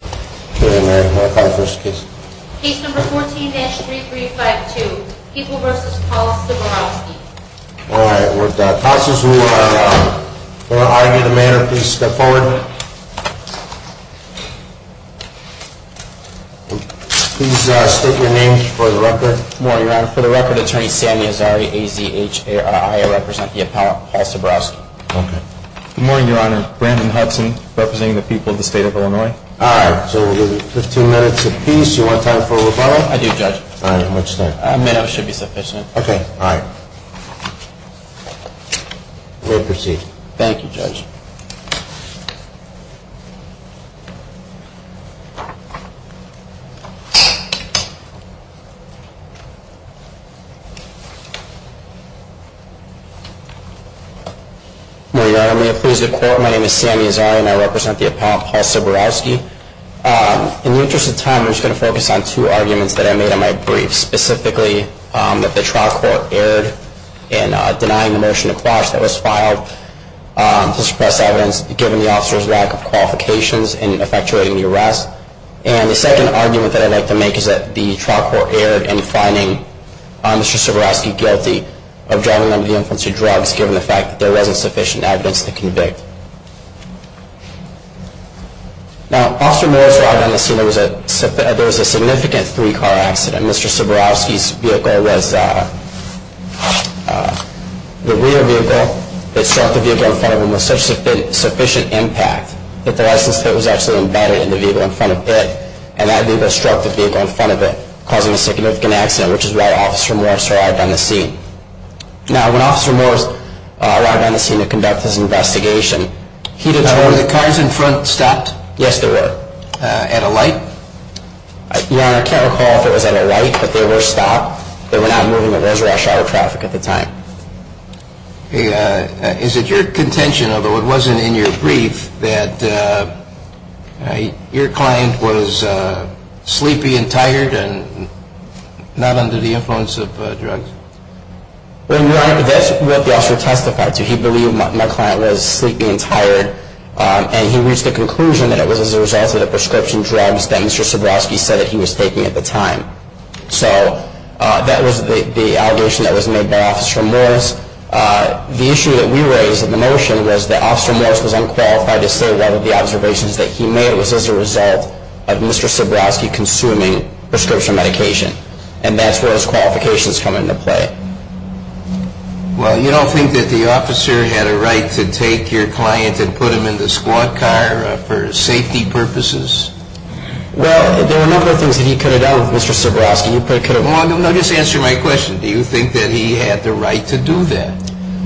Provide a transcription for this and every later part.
Case No. 14-3352, People v. Paul Ciborowski All right, we'll pass this rule and for argument of matter, please step forward. Please state your name for the record. Good morning, Your Honor. For the record, Attorney Sammy Azari, A-Z-H-A-R-I, I represent Paul Ciborowski. Good morning, Your Honor. Brandon Hudson, representing the people of the state of Illinois. All right, so we'll give you 15 minutes apiece. You want time for a rebuttal? I do, Judge. All right, how much time? A minute should be sufficient. Okay, all right. We'll proceed. Thank you, Judge. Good morning, Your Honor. May it please the Court, my name is Sammy Azari and I represent the appellant Paul Ciborowski. In the interest of time, I'm just going to focus on two arguments that I made in my brief, specifically that the trial court erred in denying the motion to quash that was filed to suppress evidence given the officer's lack of qualifications in effectuating the arrest. And the second argument that I'd like to make is that the trial court erred in finding Mr. Ciborowski guilty of driving under the influence of drugs given the fact that there wasn't sufficient evidence to convict. Now, when Officer Moore arrived on the scene, there was a significant three-car accident. Mr. Ciborowski's vehicle was the rear vehicle that struck the vehicle in front of him with sufficient impact that the license plate was actually embedded in the vehicle in front of it, and that vehicle struck the vehicle in front of it, causing a significant accident, which is why Officer Moore survived on the scene. Now, when Officer Moore arrived on the scene to conduct his investigation, he determined... Now, were the cars in front stopped? Yes, they were. At a light? Your Honor, I can't recall if it was at a light, but they were stopped. They were not moving at those rush hour traffic at the time. Is it your contention, although it wasn't in your brief, that your client was sleepy and tired and not under the influence of drugs? Well, Your Honor, that's what the officer testified to. He believed my client was sleepy and tired, and he reached the conclusion that it was as a result of the prescription drugs that Mr. Ciborowski said that he was taking at the time. So, that was the allegation that was made by Officer Moores. The issue that we raised in the motion was that Officer Moores was unqualified to say that the observations that he made was as a result of Mr. Ciborowski consuming prescription medication, and that's where his qualifications come into play. Well, you don't think that the officer had a right to take your client and put him in the squad car for safety purposes? Well, there were a number of things that he could have done with Mr. Ciborowski. You could have... No, just answer my question. Do you think that he had the right to do that?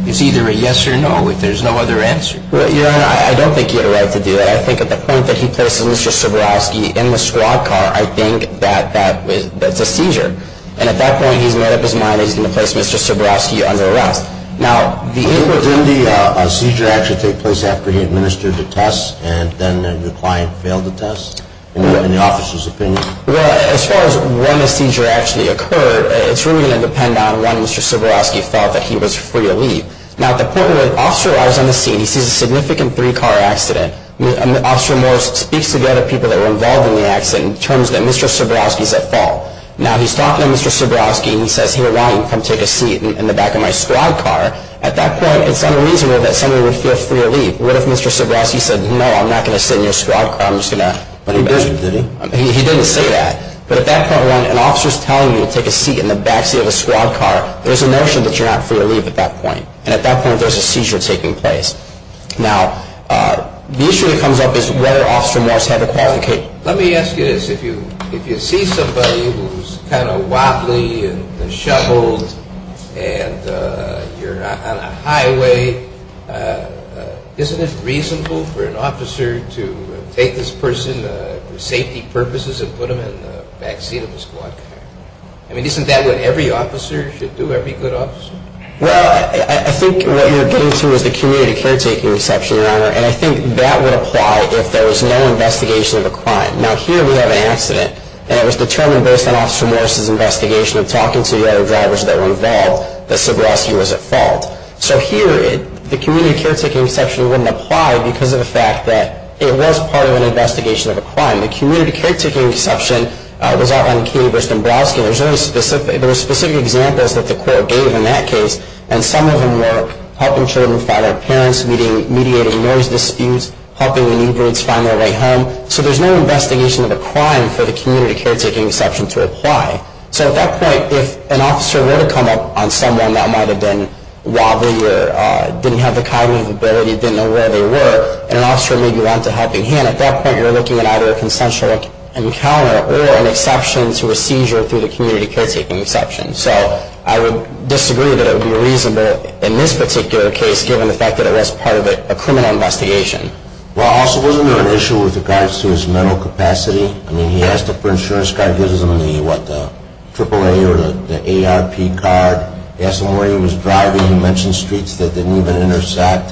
It's either a yes or no, if there's no other answer. Your Honor, I don't think he had a right to do that. I think at the point that he places Mr. Ciborowski in the squad car, I think that that's a seizure. And at that point, he's made up his mind that he's going to place Mr. Ciborowski under arrest. Now, the... Didn't the seizure actually take place after he administered the test, and then your client failed the test, in the officer's opinion? Well, as far as when the seizure actually occurred, it's really going to depend on when Mr. Ciborowski felt that he was free to leave. Now, at the point where the officer arrives on the scene, he sees a significant three-car accident. Officer Morris speaks to the other people that were involved in the accident in terms that Mr. Ciborowski's at fault. Now, he's talking to Mr. Ciborowski, and he says, here, Ryan, come take a seat in the back of my squad car. At that point, it's unreasonable that somebody would feel free to leave. What if Mr. Ciborowski said, no, I'm not going to sit in your squad car, I'm just going to... But he didn't, did he? He didn't say that. But at that point, when an officer's telling you to take a seat in the backseat of a squad car, there's a notion that you're not free to leave at that point. And at that point, there's a seizure taking place. Now, the issue that comes up is whether Officer Morris had the qualification. Let me ask you this. If you see somebody who's kind of wobbly and shoveled and you're on a highway, isn't it reasonable for an officer to take this person for safety purposes and put them in the backseat of a squad car? I mean, isn't that what every officer should do, every good officer? Well, I think what you're getting to is the community caretaking exception, Your Honor, and I think that would apply if there was no investigation of a crime. Now, here we have an accident, and it was determined based on Officer Morris' investigation of talking to the other drivers that were involved that Ciborowski was at fault. So here, the community caretaking exception wouldn't apply because of the fact that it was part of an investigation of a crime. The community caretaking exception was outlined in Keeley v. Dombrowski, and there were specific examples that the court gave in that case, and some of them were helping children find their parents, mediating noise disputes, helping the new breeds find their way home. So there's no investigation of a crime for the community caretaking exception to apply. So at that point, if an officer were to come up on someone that might have been wobbly or didn't have the cognitive ability, didn't know where they were, and an officer may be lent a helping hand, at that point you're looking at either a consensual encounter or an exception to a seizure through the community caretaking exception. So I would disagree that it would be reasonable in this particular case, given the fact that it was part of a criminal investigation. Well, also, wasn't there an issue with regards to his mental capacity? I mean, he asked for an insurance card, gives them the, what, the AAA or the ARP card. He asked them where he was driving. He mentioned streets that didn't even intersect.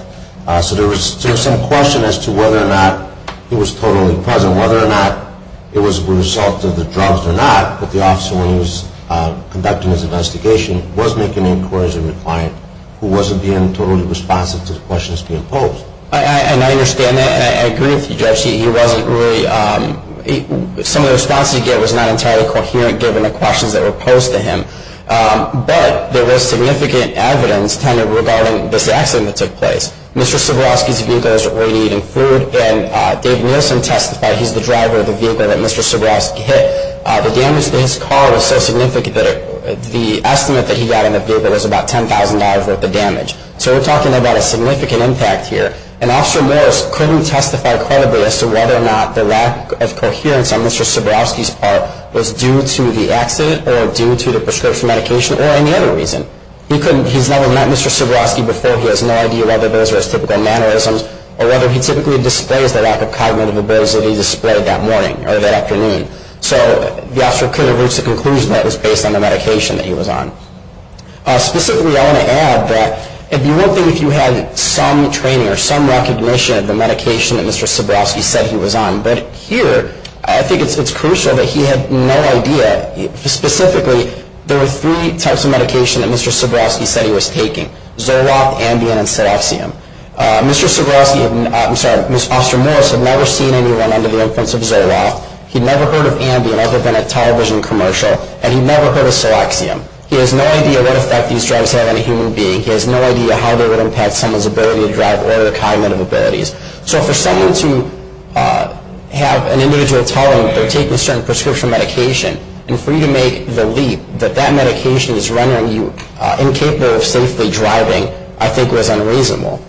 So there was some question as to whether or not he was totally present, whether or not it was a result of the drugs or not, but the officer, when he was conducting his investigation, was making inquiries of the client who wasn't being totally responsive to the questions being posed. And I understand that, and I agree with you, Judge. He wasn't really, some of the response he gave was not entirely coherent, given the questions that were posed to him. But there was significant evidence, kind of, regarding this accident that took place. Mr. Soborowski's vehicle was already eating food, and Dave Nielsen testified he's the driver of the vehicle that Mr. Soborowski hit. The damage to his car was so significant that the estimate that he got in the vehicle was about $10,000 worth of damage. So we're talking about a significant impact here. And Officer Morris couldn't testify credibly as to whether or not the lack of coherence on Mr. Soborowski's part was due to the accident or due to the prescription medication or any other reason. He's never met Mr. Soborowski before. He has no idea whether those are his typical mannerisms or whether he typically displays the lack of cognitive abilities that he displayed that morning or that afternoon. So the officer couldn't have reached a conclusion that was based on the medication that he was on. Specifically, I want to add that it would be one thing if you had some training or some recognition of the medication that Mr. Soborowski said he was on. But here, I think it's crucial that he had no idea. Specifically, there were three types of medication that Mr. Soborowski said he was taking, Zoloft, Ambien, and Cerexium. Mr. Soborowski and, I'm sorry, Officer Morris had never seen anyone under the influence of Zoloft. He'd never heard of Ambien other than a television commercial, and he'd never heard of Cerexium. He has no idea what effect these drugs have on a human being. He has no idea how they would impact someone's ability to drive or their cognitive abilities. So for someone to have an individual telling them they're taking a certain prescription medication and for you to make the leap that that medication is rendering you incapable of safely driving, I think was unreasonable.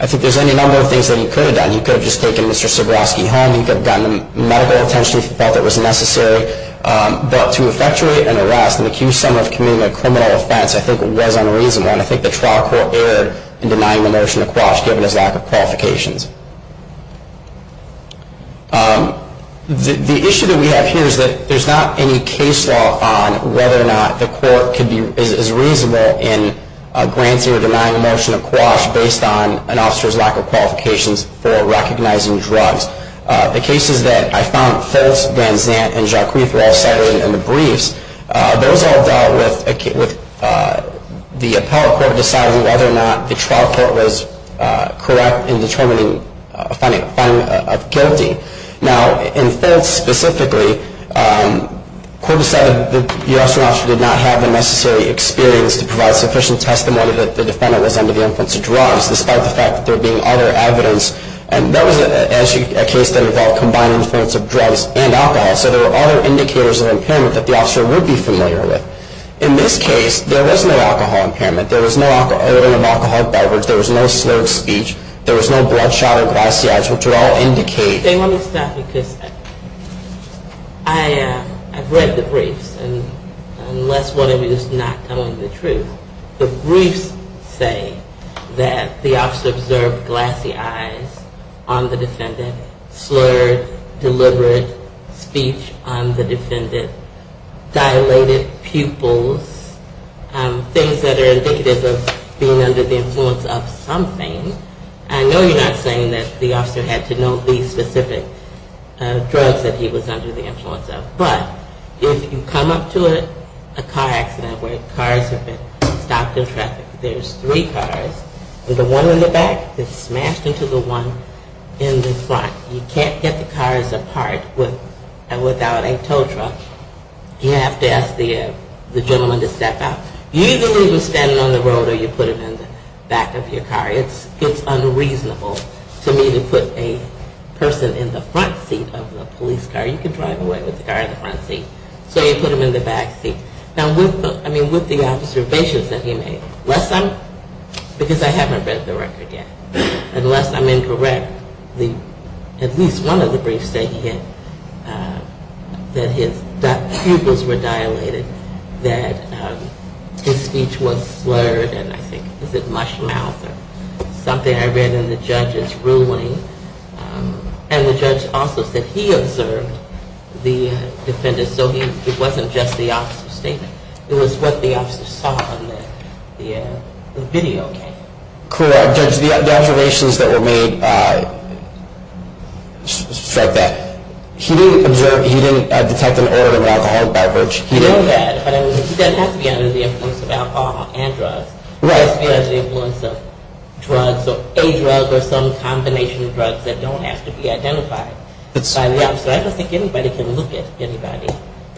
I think there's any number of things that he could have done. He could have just taken Mr. Soborowski home. He could have gotten medical attention if he felt it was necessary. But to effectuate an arrest and accuse someone of committing a criminal offense, I think was unreasonable, and I think the trial court erred in denying the motion of quash given his lack of qualifications. The issue that we have here is that there's not any case law on whether or not the court is reasonable in granting or denying a motion of quash based on an officer's lack of qualifications for recognizing drugs. The cases that I found false, Van Zant, and Jacquees were all cited in the briefs. Those all dealt with the appellate court deciding whether or not the trial court was correct in determining a finding of guilty. Now, in Fitts specifically, the court decided that the officer did not have the necessary experience to provide sufficient testimony that the defendant was under the influence of drugs, despite the fact that there being other evidence. And that was actually a case that involved combined influence of drugs and alcohol. So there were other indicators of impairment that the officer would be familiar with. In this case, there was no alcohol impairment. There was no odor of alcohol or beverage. There was no slurred speech. There was no bloodshot or glassy eyes, which would all indicate. Let me stop because I've read the briefs, and unless one of you is not telling the truth, the briefs say that the officer observed glassy eyes on the defendant, slurred, deliberate speech on the defendant, dilated pupils, things that are indicative of being under the influence of something. I know you're not saying that the officer had to know these specific drugs that he was under the influence of. But if you come up to a car accident where cars have been stopped in traffic, there's three cars. The one in the back is smashed into the one in the front. You can't get the cars apart without a tow truck. You have to ask the gentleman to step out. You either leave them standing on the road or you put them in the back of your car. It's unreasonable to me to put a person in the front seat of the police car. You can drive away with the car in the front seat. So you put them in the back seat. Now, with the observations that he made, because I haven't read the record yet, unless I'm incorrect, at least one of the briefs say that his pupils were dilated, that his speech was slurred, and I think it was a mush mouth or something. And I read in the judge's ruling, and the judge also said he observed the defendant. So it wasn't just the officer's statement. It was what the officer saw in the video. Cool. Judge, the observations that were made strike that. He didn't observe, he didn't detect an error in the alcohol beverage. He didn't. He didn't have to be under the influence of alcohol and drugs. He didn't have to be under the influence of drugs or a drug or some combination of drugs that don't have to be identified by the officer. I don't think anybody can look at anybody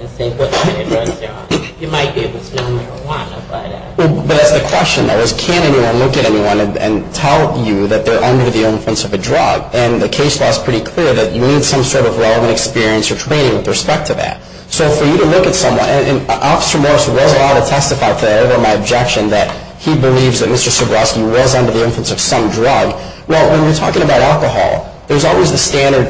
and say what kind of drugs they're on. You might be able to smell marijuana by that. But that's the question, though, is can anyone look at anyone and tell you that they're under the influence of a drug? And the case law is pretty clear that you need some sort of relevant experience or training with respect to that. So for you to look at someone, and Officer Morse was allowed to testify to that, however, my objection that he believes that Mr. Sobroski was under the influence of some drug. Well, when we're talking about alcohol, there's always the standard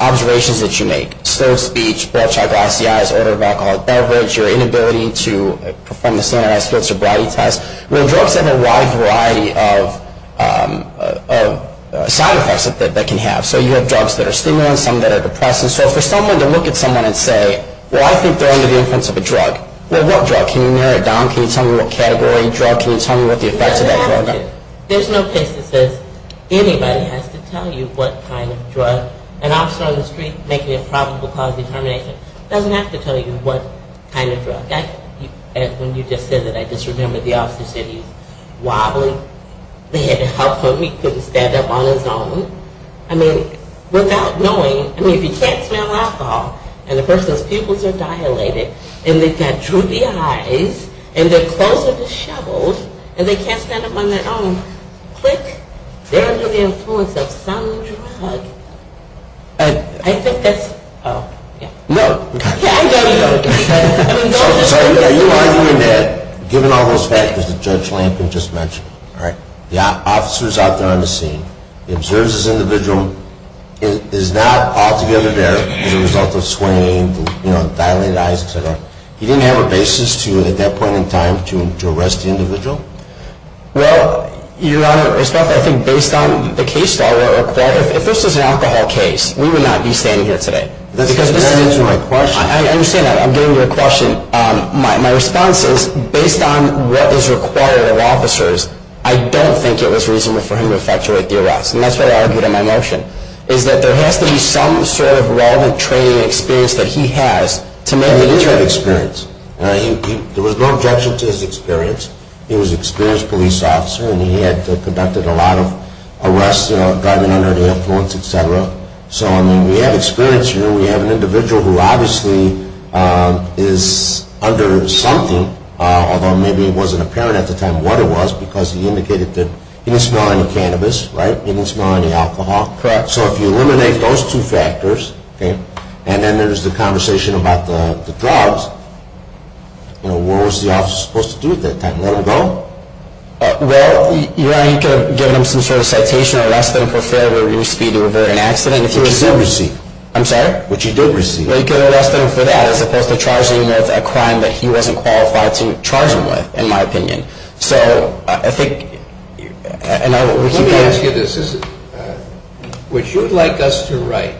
observations that you make. Slow speech, bloodshot glassy eyes, order of alcohol at beverage, your inability to perform the standardized field sobriety test. Well, drugs have a wide variety of side effects that they can have. So you have drugs that are stimulants, some that are depressants. So for someone to look at someone and say, well, I think they're under the influence of a drug. Well, what drug? Can you narrow it down? Can you tell me what category, drug? Can you tell me what the effects of that drug are? There's no case that says anybody has to tell you what kind of drug. An officer on the street making a probable cause determination doesn't have to tell you what kind of drug. When you just said that, I just remembered the officer said he was wobbling. They had to help him. He couldn't stand up on his own. I mean, without knowing, I mean, if you can't smell alcohol and the person's pupils are dilated and they can't true the eyes and their clothes are disheveled and they can't stand up on their own, quick, they're under the influence of some drug. I think that's, oh, yeah. No. Yeah, I know you don't. I mean, no. So you're arguing that given all those factors that Judge Lampkin just mentioned, all right, the officer is out there on the scene. He observes this individual. He's not altogether there as a result of swaying, dilated eyes, et cetera. He didn't have a basis to, at that point in time, to arrest the individual? Well, Your Honor, I think based on the case file, if this was an alcohol case, we would not be standing here today. That's not answering my question. I understand that. I'm getting to your question. My response is based on what is required of officers, I don't think it was reasonable for him to fluctuate the arrest. And that's what I argued in my motion, is that there has to be some sort of relevant training and experience that he has to make it easier. He did have experience. There was no objection to his experience. He was an experienced police officer and he had conducted a lot of arrests, driving under the influence, et cetera. So, I mean, we have experience here. We have an individual who obviously is under something, although maybe it wasn't apparent at the time what it was because he indicated that he didn't smell any cannabis. Right? He didn't smell any alcohol. Correct. So if you eliminate those two factors, okay, and then there's the conversation about the drugs, you know, what was the officer supposed to do at that time? Let him go? Well, Your Honor, you could have given him some sort of citation or less than for failure, which he did receive. I'm sorry? Which he did receive. Well, you could have arrested him for that as opposed to charging him with a crime that he wasn't qualified to charge him with, in my opinion. So I think, and I will keep going. Let me ask you this. What you'd like us to write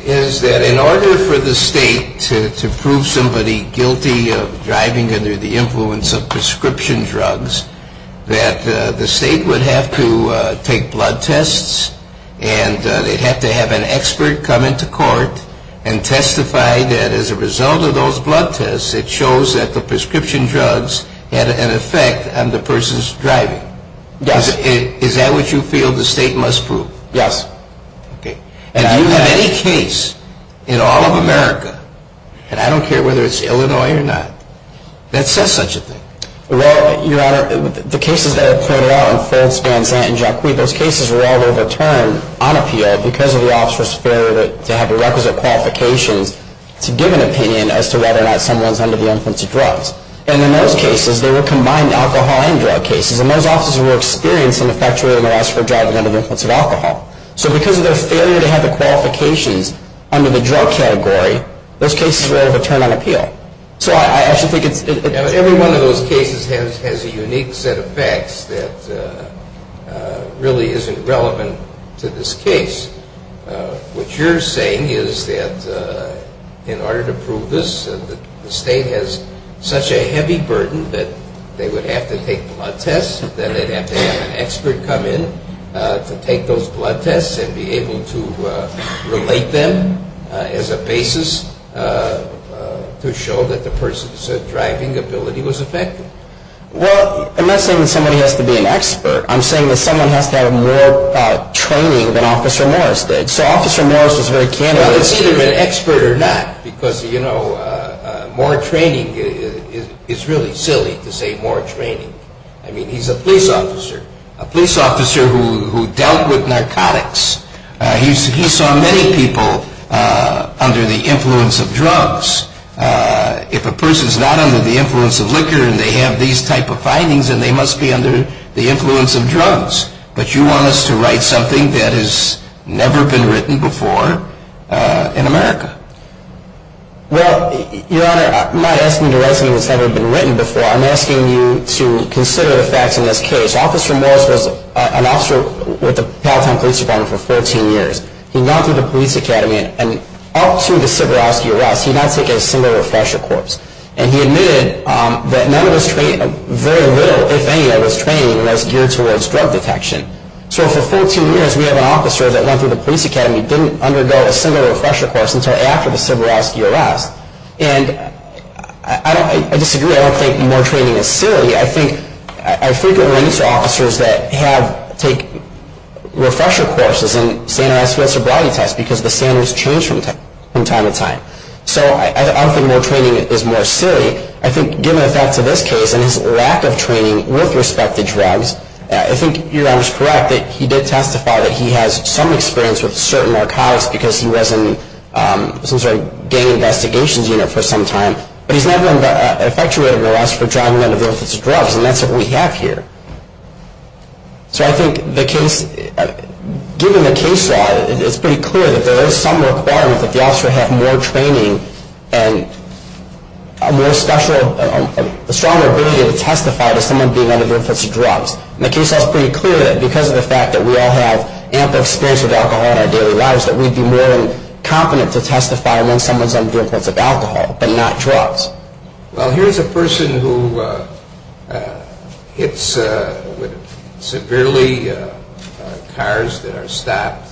is that in order for the state to prove somebody guilty of driving under the influence of prescription drugs, that the state would have to take blood tests and they'd have to have an expert come into court and testify that as a result of those blood tests, it shows that the prescription drugs had an effect on the person's driving. Yes. Is that what you feel the state must prove? Yes. Okay. And do you have any case in all of America, and I don't care whether it's Illinois or not, that says such a thing? Well, Your Honor, the cases that are pointed out in Fultz, Van Zant, and Jacque, those cases were all overturned on appeal because of the officer's failure to have the requisite qualifications to give an opinion as to whether or not someone's under the influence of drugs. And in those cases, they were combined alcohol and drug cases, and those officers were experiencing an effectual arrest for driving under the influence of alcohol. So because of their failure to have the qualifications under the drug category, those cases were overturned on appeal. Every one of those cases has a unique set of facts that really isn't relevant to this case. What you're saying is that in order to prove this, the state has such a heavy burden that they would have to take blood tests, then they'd have to have an expert come in to take those blood tests and be able to relate them as a basis to show that the person's driving ability was affected. Well, I'm not saying that somebody has to be an expert. I'm saying that someone has to have more training than Officer Morris did. So Officer Morris was very candid. Well, it's either an expert or not because, you know, more training is really silly to say more training. I mean, he's a police officer, a police officer who dealt with narcotics. He saw many people under the influence of drugs. If a person's not under the influence of liquor and they have these type of findings, then they must be under the influence of drugs. But you want us to write something that has never been written before in America. Well, Your Honor, I'm not asking you to write something that's never been written before. I'm asking you to consider the facts in this case. Officer Morris was an officer with the Palatine Police Department for 14 years. He went through the police academy, and up to the Siberowski arrest, he did not take a single refresher course. And he admitted that none of his training, very little, if any of his training, was geared towards drug detection. So for 14 years, we have an officer that went through the police academy, didn't undergo a single refresher course until after the Siberowski arrest. And I disagree. I don't think more training is silly. I think I frequently meet officers that have taken refresher courses and standardized field sobriety tests because the standards change from time to time. So I don't think more training is more silly. I think given the facts of this case and his lack of training with respect to drugs, I think Your Honor's correct that he did testify that he has some experience with certain narcotics because he was in some sort of gang investigations unit for some time. But he's never been effectuated with arrests for driving under the influence of drugs, and that's what we have here. So I think given the case law, it's pretty clear that there is some requirement that the officer have more training and a stronger ability to testify to someone being under the influence of drugs. And the case law is pretty clear that because of the fact that we all have ample experience with alcohol in our daily lives, that we'd be more than confident to testify when someone's under the influence of alcohol but not drugs. Well, here's a person who hits severely cars that are stopped.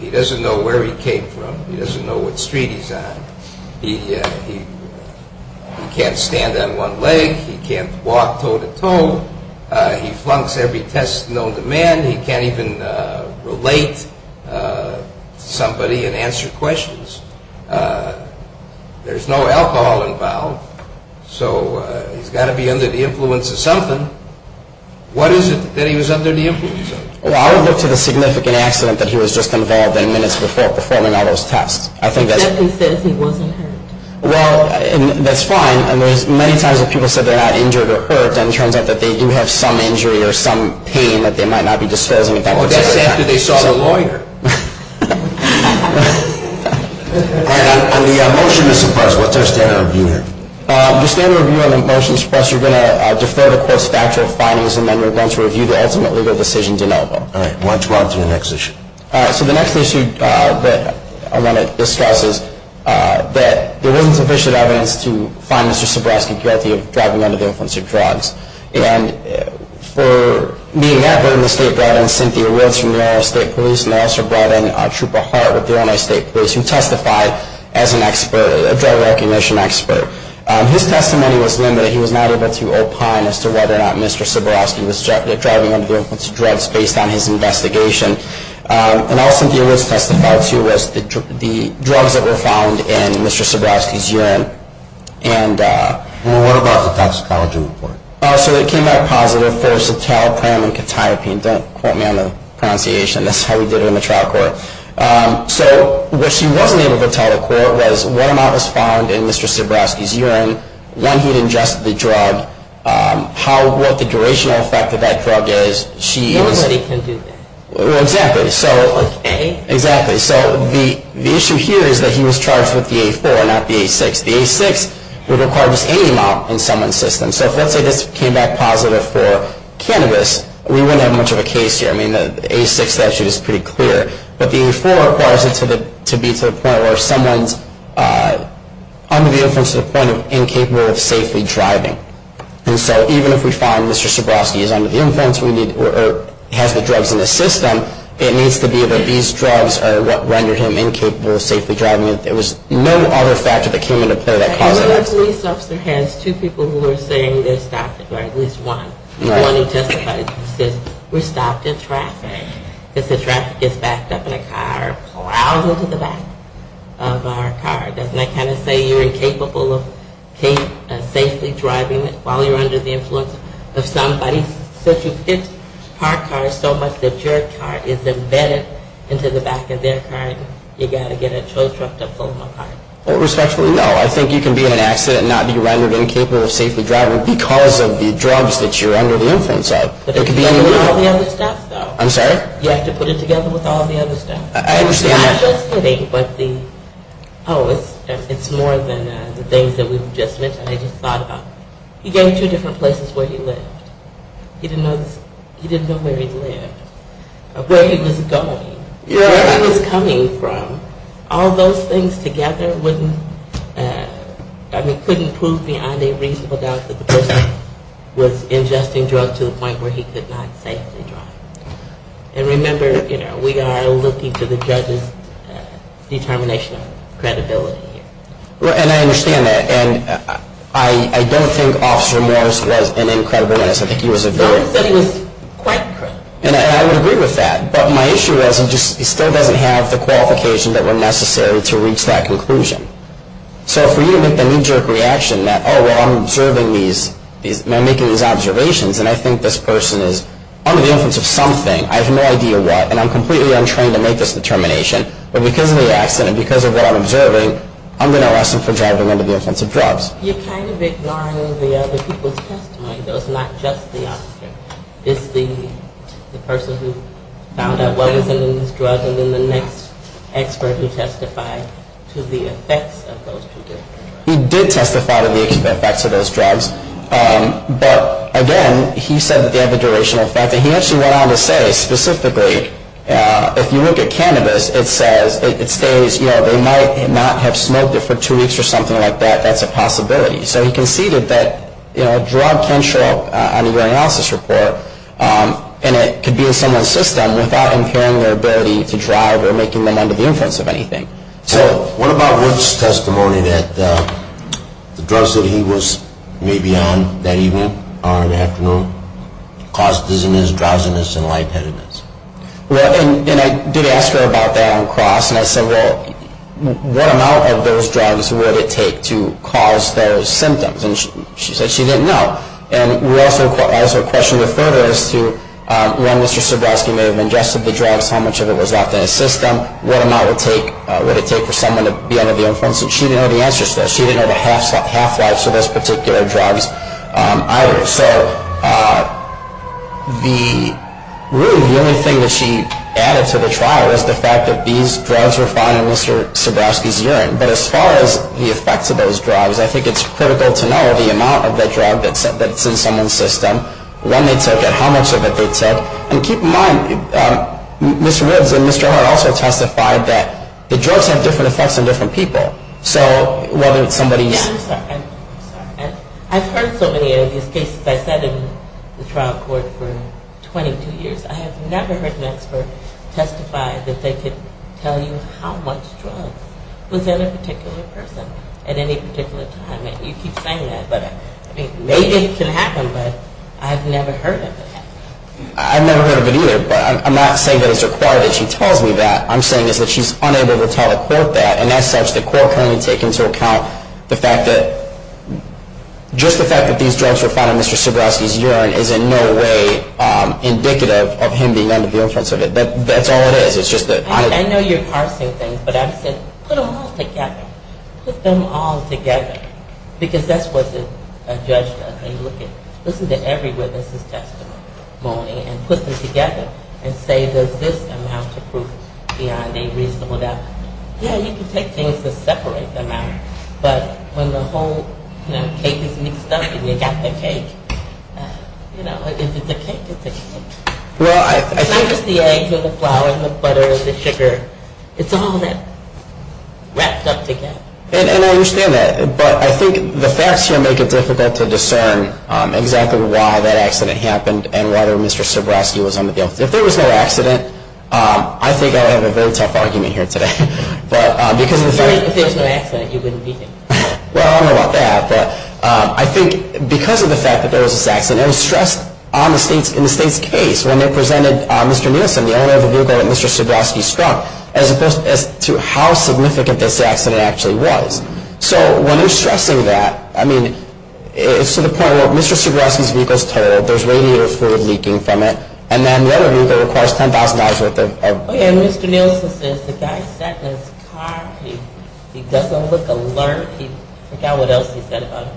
He doesn't know where he came from. He doesn't know what street he's on. He can't stand on one leg. He can't walk toe to toe. He flunks every test known to man. He can't even relate to somebody and answer questions. There's no alcohol involved, so he's got to be under the influence of something. What is it that he was under the influence of? Well, I would look to the significant accident that he was just involved in minutes before performing all those tests. Except he says he wasn't hurt. Well, that's fine, and there's many times that people said they're not injured or hurt, and it turns out that they do have some injury or some pain that they might not be disclosing. Well, that's after they saw the lawyer. All right, on the motion to suppress, what's our standard of review here? The standard of review on the motion to suppress, you're going to defer the course factual findings, and then you're going to review the ultimate legal decision de novo. All right, why don't you go on to the next issue? So the next issue that I want to discuss is that there wasn't sufficient evidence to find Mr. And for being that, the state brought in Cynthia Woods from the Ohio State Police, and they also brought in Trooper Hart with the Ohio State Police, who testified as a drug recognition expert. His testimony was limited. He was not able to opine as to whether or not Mr. was driving under the influence of drugs based on his investigation. And all Cynthia Woods testified to was the drugs that were found in Mr. So what about the toxicology report? So it came back positive for citalopram and catiopine. Don't quote me on the pronunciation. That's how we did it in the trial court. So what she wasn't able to tell the court was what amount was found in Mr. Sebrowski's urine when he ingested the drug, what the durational effect of that drug is. Nobody can do that. Exactly. Like A? Exactly. So the issue here is that he was charged with the A4, not the A6. The A6 would require just any amount in someone's system. So if, let's say, this came back positive for cannabis, we wouldn't have much of a case here. I mean, the A6 statute is pretty clear. But the A4 requires it to be to the point where someone's under the influence to the point of incapable of safely driving. And so even if we find Mr. Sebrowski is under the influence or has the drugs in the system, it needs to be that these drugs are what rendered him incapable of safely driving. There was no other factor that came into play that caused that accident. I know the police officer has two people who are saying they're stopped, or at least one. Right. The one who testified says, we're stopped in traffic because the traffic gets backed up in a car, plowed into the back of our car. Doesn't that kind of say you're incapable of safely driving while you're under the influence of somebody? Since you hit our car so much that your car is embedded into the back of their car, you've got to get a tow truck to pull them apart. Well, respectfully, no. I think you can be in an accident and not be rendered incapable of safely driving because of the drugs that you're under the influence of. But you have to do all the other stuff, though. I'm sorry? You have to put it together with all the other stuff. I understand that. I'm just kidding. Oh, it's more than the things that we've just mentioned. I just thought about it. He gave me two different places where he lived. He didn't know where he lived, where he was going, where he was coming from. All those things together couldn't prove beyond a reasonable doubt that the person was ingesting drugs to the point where he could not safely drive. And remember, we are looking to the judge's determination of credibility. And I understand that. And I don't think Officer Morris was an incredible witness. I think he was a very- I would say he was quite credible. And I would agree with that. But my issue is he still doesn't have the qualification that were necessary to reach that conclusion. So for you to make the knee-jerk reaction that, oh, well, I'm observing these, I'm making these observations, and I think this person is under the influence of something, I have no idea what, and I'm completely untrained to make this determination, but because of the accident, because of what I'm observing, I'm going to arrest him for driving under the influence of drugs. You're kind of ignoring the other people's testimony, though. It's not just the officer. It's the person who found out what was in those drugs, and then the next expert who testified to the effects of those two drugs. He did testify to the effects of those drugs. But, again, he said that they have a durational effect. And he actually went on to say, specifically, if you look at cannabis, it says, you know, they might not have smoked it for two weeks or something like that. That's a possibility. So he conceded that, you know, a drug can show up on a urinalysis report, and it could be in someone's system without impairing their ability to drive or making them under the influence of anything. So what about Wood's testimony that the drugs that he was maybe on that evening or in the afternoon caused dizziness, drowsiness, and lightheadedness? Well, and I did ask her about that on cross, and I said, well, what amount of those drugs would it take to cause those symptoms? And she said she didn't know. And I also questioned her further as to when Mr. Sebroski may have ingested the drugs, how much of it was left in his system, what amount would it take for someone to be under the influence. And she didn't know the answer to that. She didn't know the half-life to those particular drugs either. So really the only thing that she added to the trial was the fact that these drugs were found in Mr. Sebroski's urine. But as far as the effects of those drugs, I think it's critical to know the amount of the drug that's in someone's system, when they took it, how much of it they took. And keep in mind, Mr. Woods and Mr. Hart also testified that the drugs have different effects on different people. So whether it's somebody's... Yeah, I'm sorry. I'm sorry. I've heard so many of these cases. I sat in the trial court for 22 years. I have never heard an expert testify that they could tell you how much drugs was in a particular person at any particular time. And you keep saying that, but maybe it can happen, but I've never heard of it. I've never heard of it either, but I'm not saying that it's required that she tells me that. What I'm saying is that she's unable to tell the court that, and as such, the court can only take into account the fact that just the fact that these drugs were found in Mr. Sebroski's urine is in no way indicative of him being under the influence of it. That's all it is. I know you're parsing things, but I would say put them all together. Put them all together, because that's what a judge does. Listen to every witness' testimony and put them together and say there's this amount of proof beyond a reasonable doubt. Yeah, you can take things to separate them out, but when the whole cake is mixed up and you've got the cake, you know, if it's a cake, it's a cake. It's not just the eggs or the flour or the butter or the sugar. It's all that wrapped up together. And I understand that, but I think the facts here make it difficult to discern exactly why that accident happened and why Mr. Sebroski was on the vehicle. If there was no accident, I think I would have a very tough argument here today. If there was no accident, you wouldn't be here. Well, I don't know about that, but I think because of the fact that there was this accident, it was stressed in the state's case when they presented Mr. Nielsen, the owner of the vehicle that Mr. Sebroski struck, as opposed to how significant this accident actually was. So when they're stressing that, I mean, it's to the point where Mr. Sebroski's vehicle is totaled, there's radiator fluid leaking from it, and then the other vehicle requires $10,000 worth of... Oh, yeah, and Mr. Nielsen says the guy sat in his car. He doesn't look alert. He forgot what else he said about it.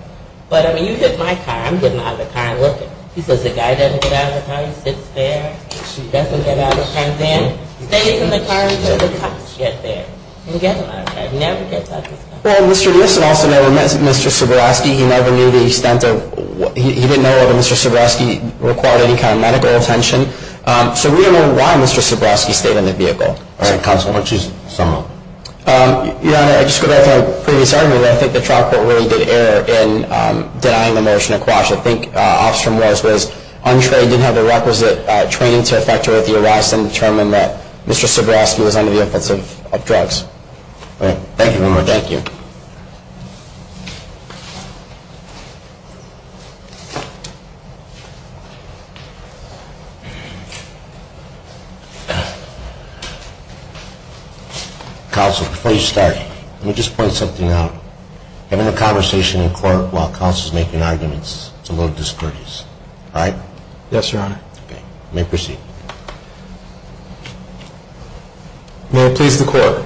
But, I mean, you hit my car. I'm getting out of the car and looking. He says the guy doesn't get out of the car. He sits there. He doesn't get out of the car. He stays in the car until the cops get there. He doesn't get out of the car. He never gets out of the car. Well, Mr. Nielsen also never met Mr. Sebroski. He never knew the extent of... He didn't know whether Mr. Sebroski required any kind of medical attention. So we don't know why Mr. Sebroski stayed in the vehicle. All right, counsel, why don't you sum up? Your Honor, I just go back to our previous argument. I think the trial court really did err in denying the motion of quash. I think Officer Morales was untrained, didn't have the requisite training to effectuate the arrest and determine that Mr. Sebroski was under the influence of drugs. Thank you very much. Thank you. Counsel, before you start, let me just point something out. I'm going to have a conversation in court while counsel is making arguments. It's a little discourteous. All right? Yes, Your Honor. Okay. You may proceed. May it please the court,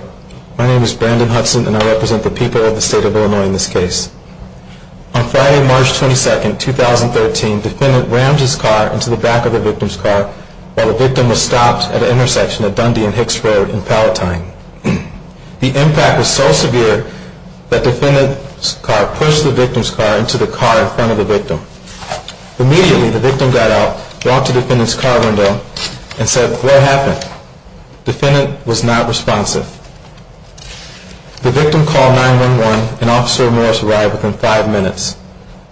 my name is Brandon Hudson and I represent the people of the state of Illinois in this case. On Friday, March 22, 2013, defendant rammed his car into the back of the victim's car while the victim was stopped at an intersection at Dundee and Hicks Road in Palatine. The impact was so severe that the defendant's car pushed the victim's car into the car in front of the victim. Immediately, the victim got out, walked to the defendant's car window and said, What happened? The defendant was not responsive. The victim called 911 and Officer Morales arrived within five minutes.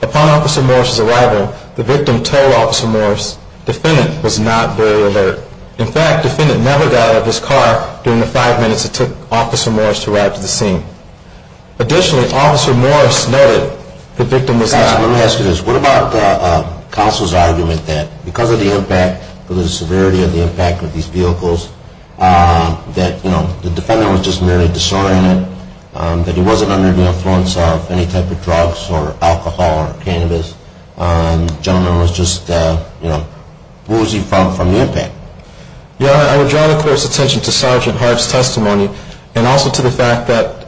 Upon Officer Morales' arrival, the victim told Officer Morales the defendant was not very alert. In fact, the defendant never got out of his car during the five minutes it took Officer Morales to arrive to the scene. Additionally, Officer Morales noted the victim was not responsive. Let me ask you this. What about counsel's argument that because of the impact, because of the severity of the impact of these vehicles, that, you know, the defendant was just merely disoriented, that he wasn't under the influence of any type of drugs or alcohol or cannabis, and the gentleman was just, you know, bruising from the impact? Your Honor, I would draw the court's attention to Sergeant Hart's testimony and also to the fact that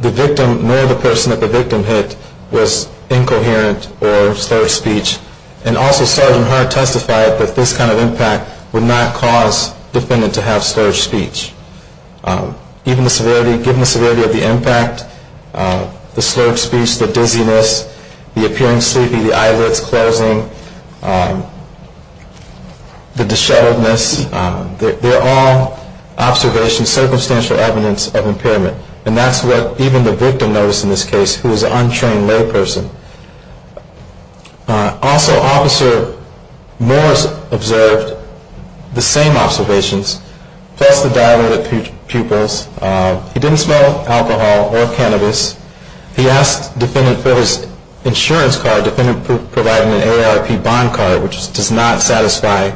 the victim, nor the person that the victim hit, was incoherent or slurred speech, and also Sergeant Hart testified that this kind of impact would not cause the defendant to have slurred speech. Given the severity of the impact, the slurred speech, the dizziness, the appearing sleepy, the eyelids closing, the disheveledness, they're all observations, circumstantial evidence of impairment, and that's what even the victim noticed in this case, who was an untrained layperson. Also, Officer Morales observed the same observations, plus the dilated pupils. He didn't smell alcohol or cannabis. He asked the defendant for his insurance card. The defendant provided an AARP bond card, which does not satisfy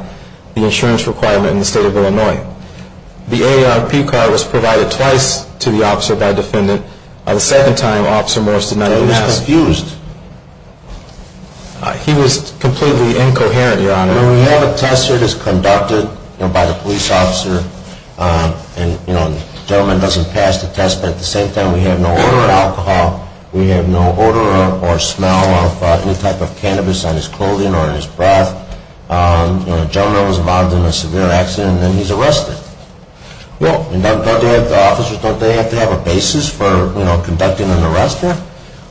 the insurance requirement in the state of Illinois. The AARP card was provided twice to the officer by the defendant. The second time, Officer Morales did not even ask. He was completely incoherent, Your Honor. When we have a test that is conducted by the police officer, and the gentleman doesn't pass the test, but at the same time we have no odor of alcohol, we have no odor or smell of any type of cannabis on his clothing or in his breath, the gentleman was involved in a severe accident, and then he's arrested. Don't the officers have to have a basis for conducting an arrest there?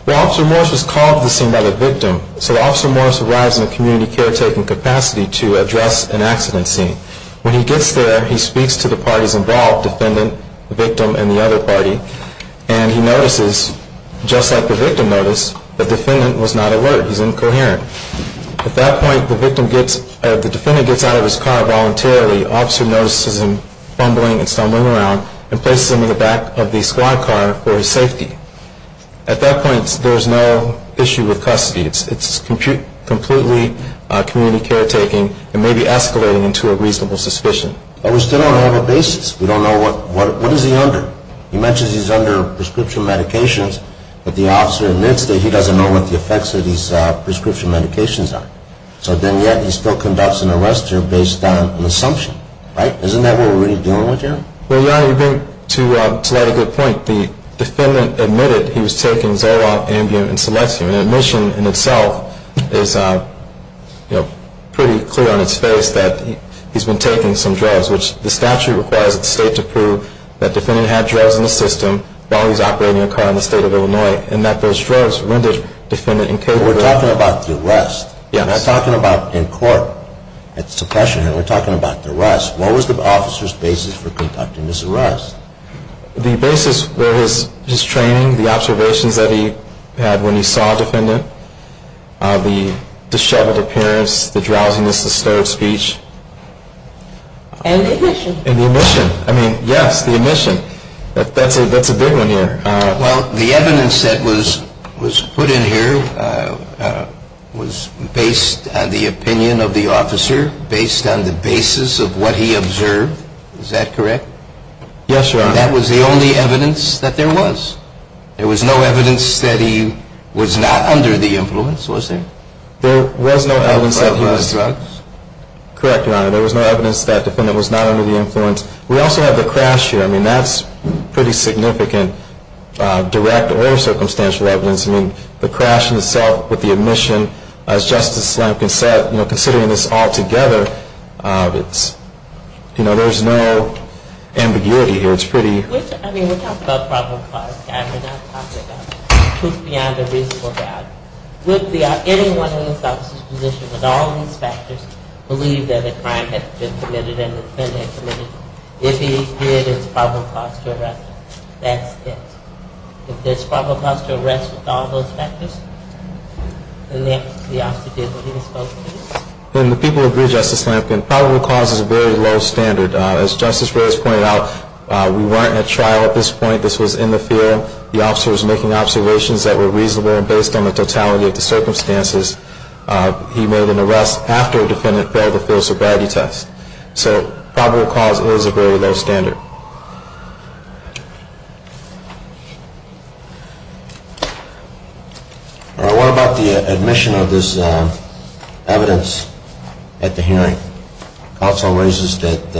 Well, Officer Morales was called to the scene by the victim, so Officer Morales arrives in a community caretaking capacity to address an accident scene. When he gets there, he speaks to the parties involved, the defendant, the victim, and the other party, and he notices, just like the victim noticed, the defendant was not alert. He's incoherent. At that point, the defendant gets out of his car voluntarily. The officer notices him fumbling and stumbling around and places him in the back of the squad car for his safety. At that point, there's no issue with custody. It's completely community caretaking and maybe escalating into a reasonable suspicion. But we still don't have a basis. We don't know what is he under. He mentions he's under prescription medications, but the officer admits that he doesn't know what the effects of these prescription medications are, so then yet he still conducts an arrest there based on an assumption, right? Isn't that what we're really dealing with here? Well, yeah, you bring up a good point. The defendant admitted he was taking Zoloft, Ambien, and Selecium, and the admission in itself is pretty clear on its face that he's been taking some drugs, which the statute requires the state to prove that the defendant had drugs in the system while he was operating a car in the state of Illinois, and that those drugs rendered the defendant incapable. We're talking about the arrest. Yes. We're not talking about in court, at suppression, we're talking about the arrest. What was the officer's basis for conducting this arrest? The basis was his training, the observations that he had when he saw a defendant, the disheveled appearance, the drowsiness, the stuttered speech. And the admission. And the admission. I mean, yes, the admission. That's a big one here. Well, the evidence that was put in here was based on the opinion of the officer, based on the basis of what he observed. Is that correct? Yes, Your Honor. That was the only evidence that there was? There was no evidence that he was not under the influence, was there? There was no evidence that he was. He had drugs? Correct, Your Honor. There was no evidence that the defendant was not under the influence. We also have the crash here. I mean, that's pretty significant direct or circumstantial evidence. I mean, the crash itself with the admission, as Justice Slamkin said, considering this all together, you know, there's no ambiguity here. It's pretty. I mean, we're talking about probable cause. We're not talking about proof beyond a reasonable doubt. Would anyone in this officer's position with all these factors believe that a crime had been committed and the defendant committed if he did his probable cause to arrest him? That's it. If there's probable cause to arrest with all those factors, the officer did what he was supposed to do. And the people agree, Justice Slamkin, probable cause is a very low standard. As Justice Reyes pointed out, we weren't at trial at this point. This was in the field. The officer was making observations that were reasonable, and based on the totality of the circumstances, he made an arrest after the defendant failed the field sobriety test. So probable cause is a very low standard. All right. What about the admission of this evidence at the hearing? Counsel raises that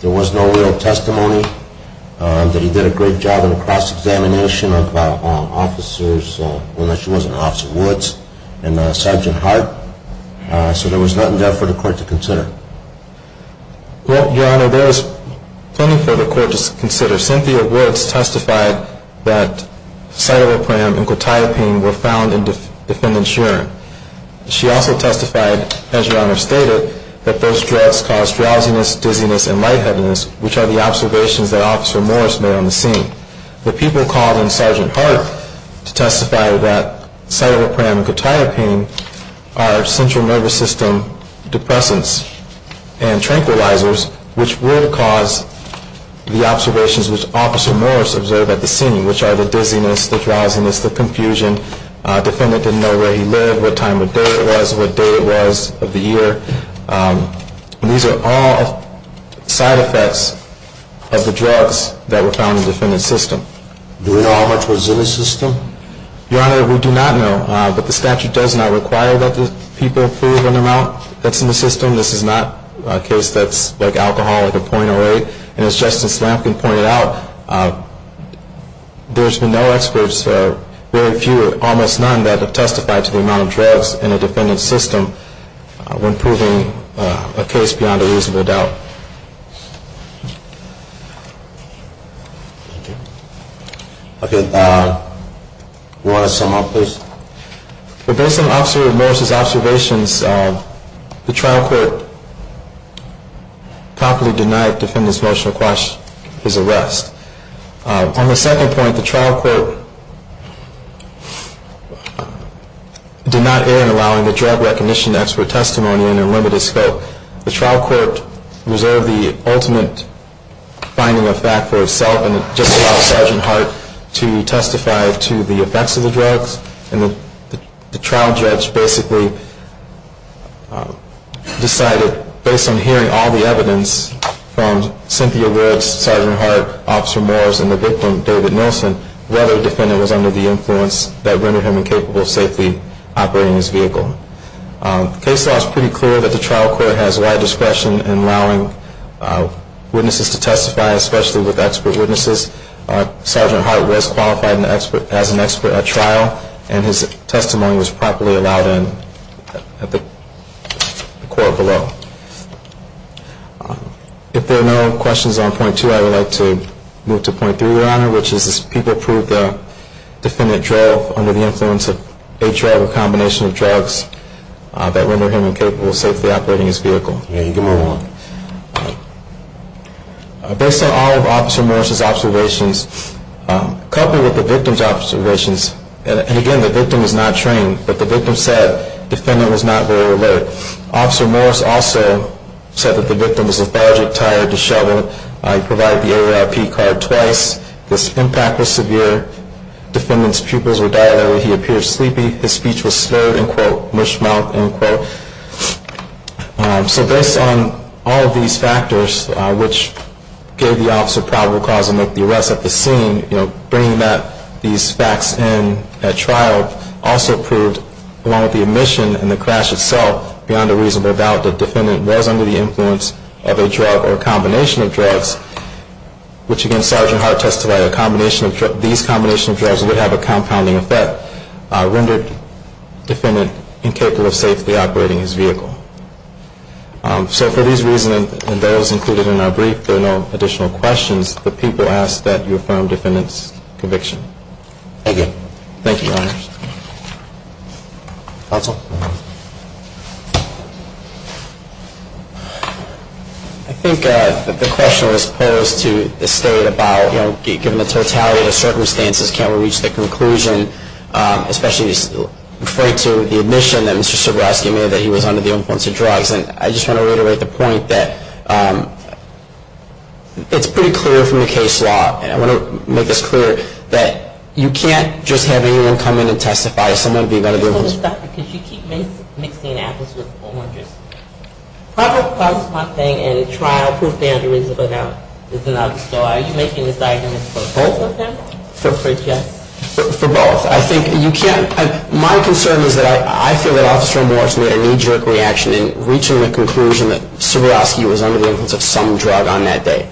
there was no real testimony, that he did a great job in the cross-examination of officers, unless he was an Officer Woods and Sergeant Hart. So there was nothing there for the court to consider. Well, Your Honor, there was plenty for the court to consider. Cynthia Woods testified that Cytopram and Cotiapine were found in the defendant's urine. She also testified, as Your Honor stated, that those drugs caused drowsiness, dizziness, and lightheadedness, which are the observations that Officer Morris made on the scene. The people called in Sergeant Hart to testify that Cytopram and Cotiapine are central nervous system depressants and tranquilizers, which will cause the observations which Officer Morris observed at the scene, which are the dizziness, the drowsiness, the confusion. The defendant didn't know where he lived, what time of day it was, what day it was of the year. These are all side effects of the drugs that were found in the defendant's system. Do we know how much was in the system? Your Honor, we do not know, but the statute does not require that the people prove an amount that's in the system. This is not a case that's like alcohol, like a .08. And as Justice Lamkin pointed out, there's been no experts, very few, or almost none that have testified to the amount of drugs in a defendant's system when proving a case beyond a reasonable doubt. Okay. Do you want to sum up this? Based on Officer Morris' observations, the trial court properly denied the defendant's motion to quash his arrest. On the second point, the trial court did not err in allowing the drug recognition expert testimony in a limited scope. The trial court reserved the ultimate finding of fact for itself and just allowed Sergeant Hart to testify to the effects of the drugs. And the trial judge basically decided, based on hearing all the evidence from Cynthia Woods, Sergeant Hart, Officer Morris, and the victim, David Nilsen, whether the defendant was under the influence that rendered him incapable of safely operating his vehicle. The case law is pretty clear that the trial court has wide discretion in allowing witnesses to testify, especially with expert witnesses. Sergeant Hart was qualified as an expert at trial, and his testimony was properly allowed in at the court below. If there are no questions on point two, I would like to move to point three, Your Honor, which is, has people proved the defendant drove under the influence of a drug or combination of drugs that rendered him incapable of safely operating his vehicle? Based on all of Officer Morris' observations, coupled with the victim's observations, and again, the victim is not trained, but the victim said the defendant was not very alert. Officer Morris also said that the victim was lethargic, tired, disheveled. He provided the AARP card twice. His impact was severe. The defendant's pupils were dilated. He appeared sleepy. So based on all of these factors, which gave the officer probable cause to make the arrest at the scene, bringing these facts in at trial also proved, along with the omission and the crash itself, beyond a reasonable doubt that the defendant was under the influence of a drug or combination of drugs, which, again, Sergeant Hart testified, these combination of drugs would have a compounding effect, rendered the defendant incapable of safely operating his vehicle. So for these reasons and those included in our brief, there are no additional questions, but people ask that you affirm the defendant's conviction. Thank you. Thank you, Your Honor. Counsel? I think the question was posed to the State about, you know, given the totality of the circumstances, can we reach the conclusion, especially referring to the omission that Mr. Sobrowski made, that he was under the influence of drugs. And I just want to reiterate the point that it's pretty clear from the case law, and I want to make this clear, that you can't just have anyone come in and testify. Someone would be under the influence of drugs. Dr., could you keep mixing apples with oranges? Probable cause, my thing, at a trial proved beyond a reasonable doubt. So are you making this argument for both of them? For both. I think you can't. My concern is that I feel that Officer Morse made a knee-jerk reaction in reaching the conclusion that Sobrowski was under the influence of some drug on that day.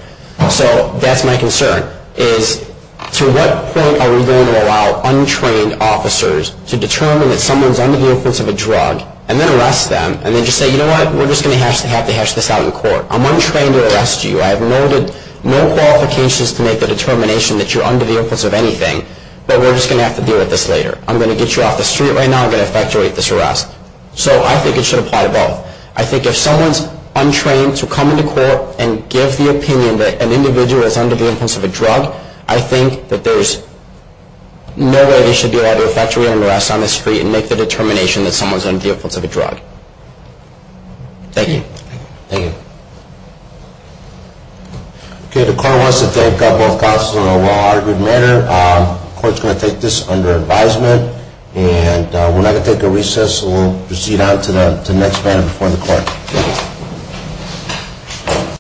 So that's my concern, is to what point are we going to allow untrained officers to determine that someone's under the influence of a drug and then arrest them and then just say, you know what, we're just going to have to hash this out in court. I'm untrained to arrest you. I have no qualifications to make the determination that you're under the influence of anything, but we're just going to have to deal with this later. I'm going to get you off the street right now. I'm going to effectuate this arrest. So I think it should apply to both. I think if someone's untrained to come into court and give the opinion that an individual is under the influence of a drug, I think that there's no way they should be allowed to effectuate an arrest on the street and make the determination that someone's under the influence of a drug. Thank you. Thank you. Okay, the court wants to thank both counsel in a well-argued manner. The court's going to take this under advisement, and we're now going to take a recess, and we'll proceed on to the next matter before the court. Thank you.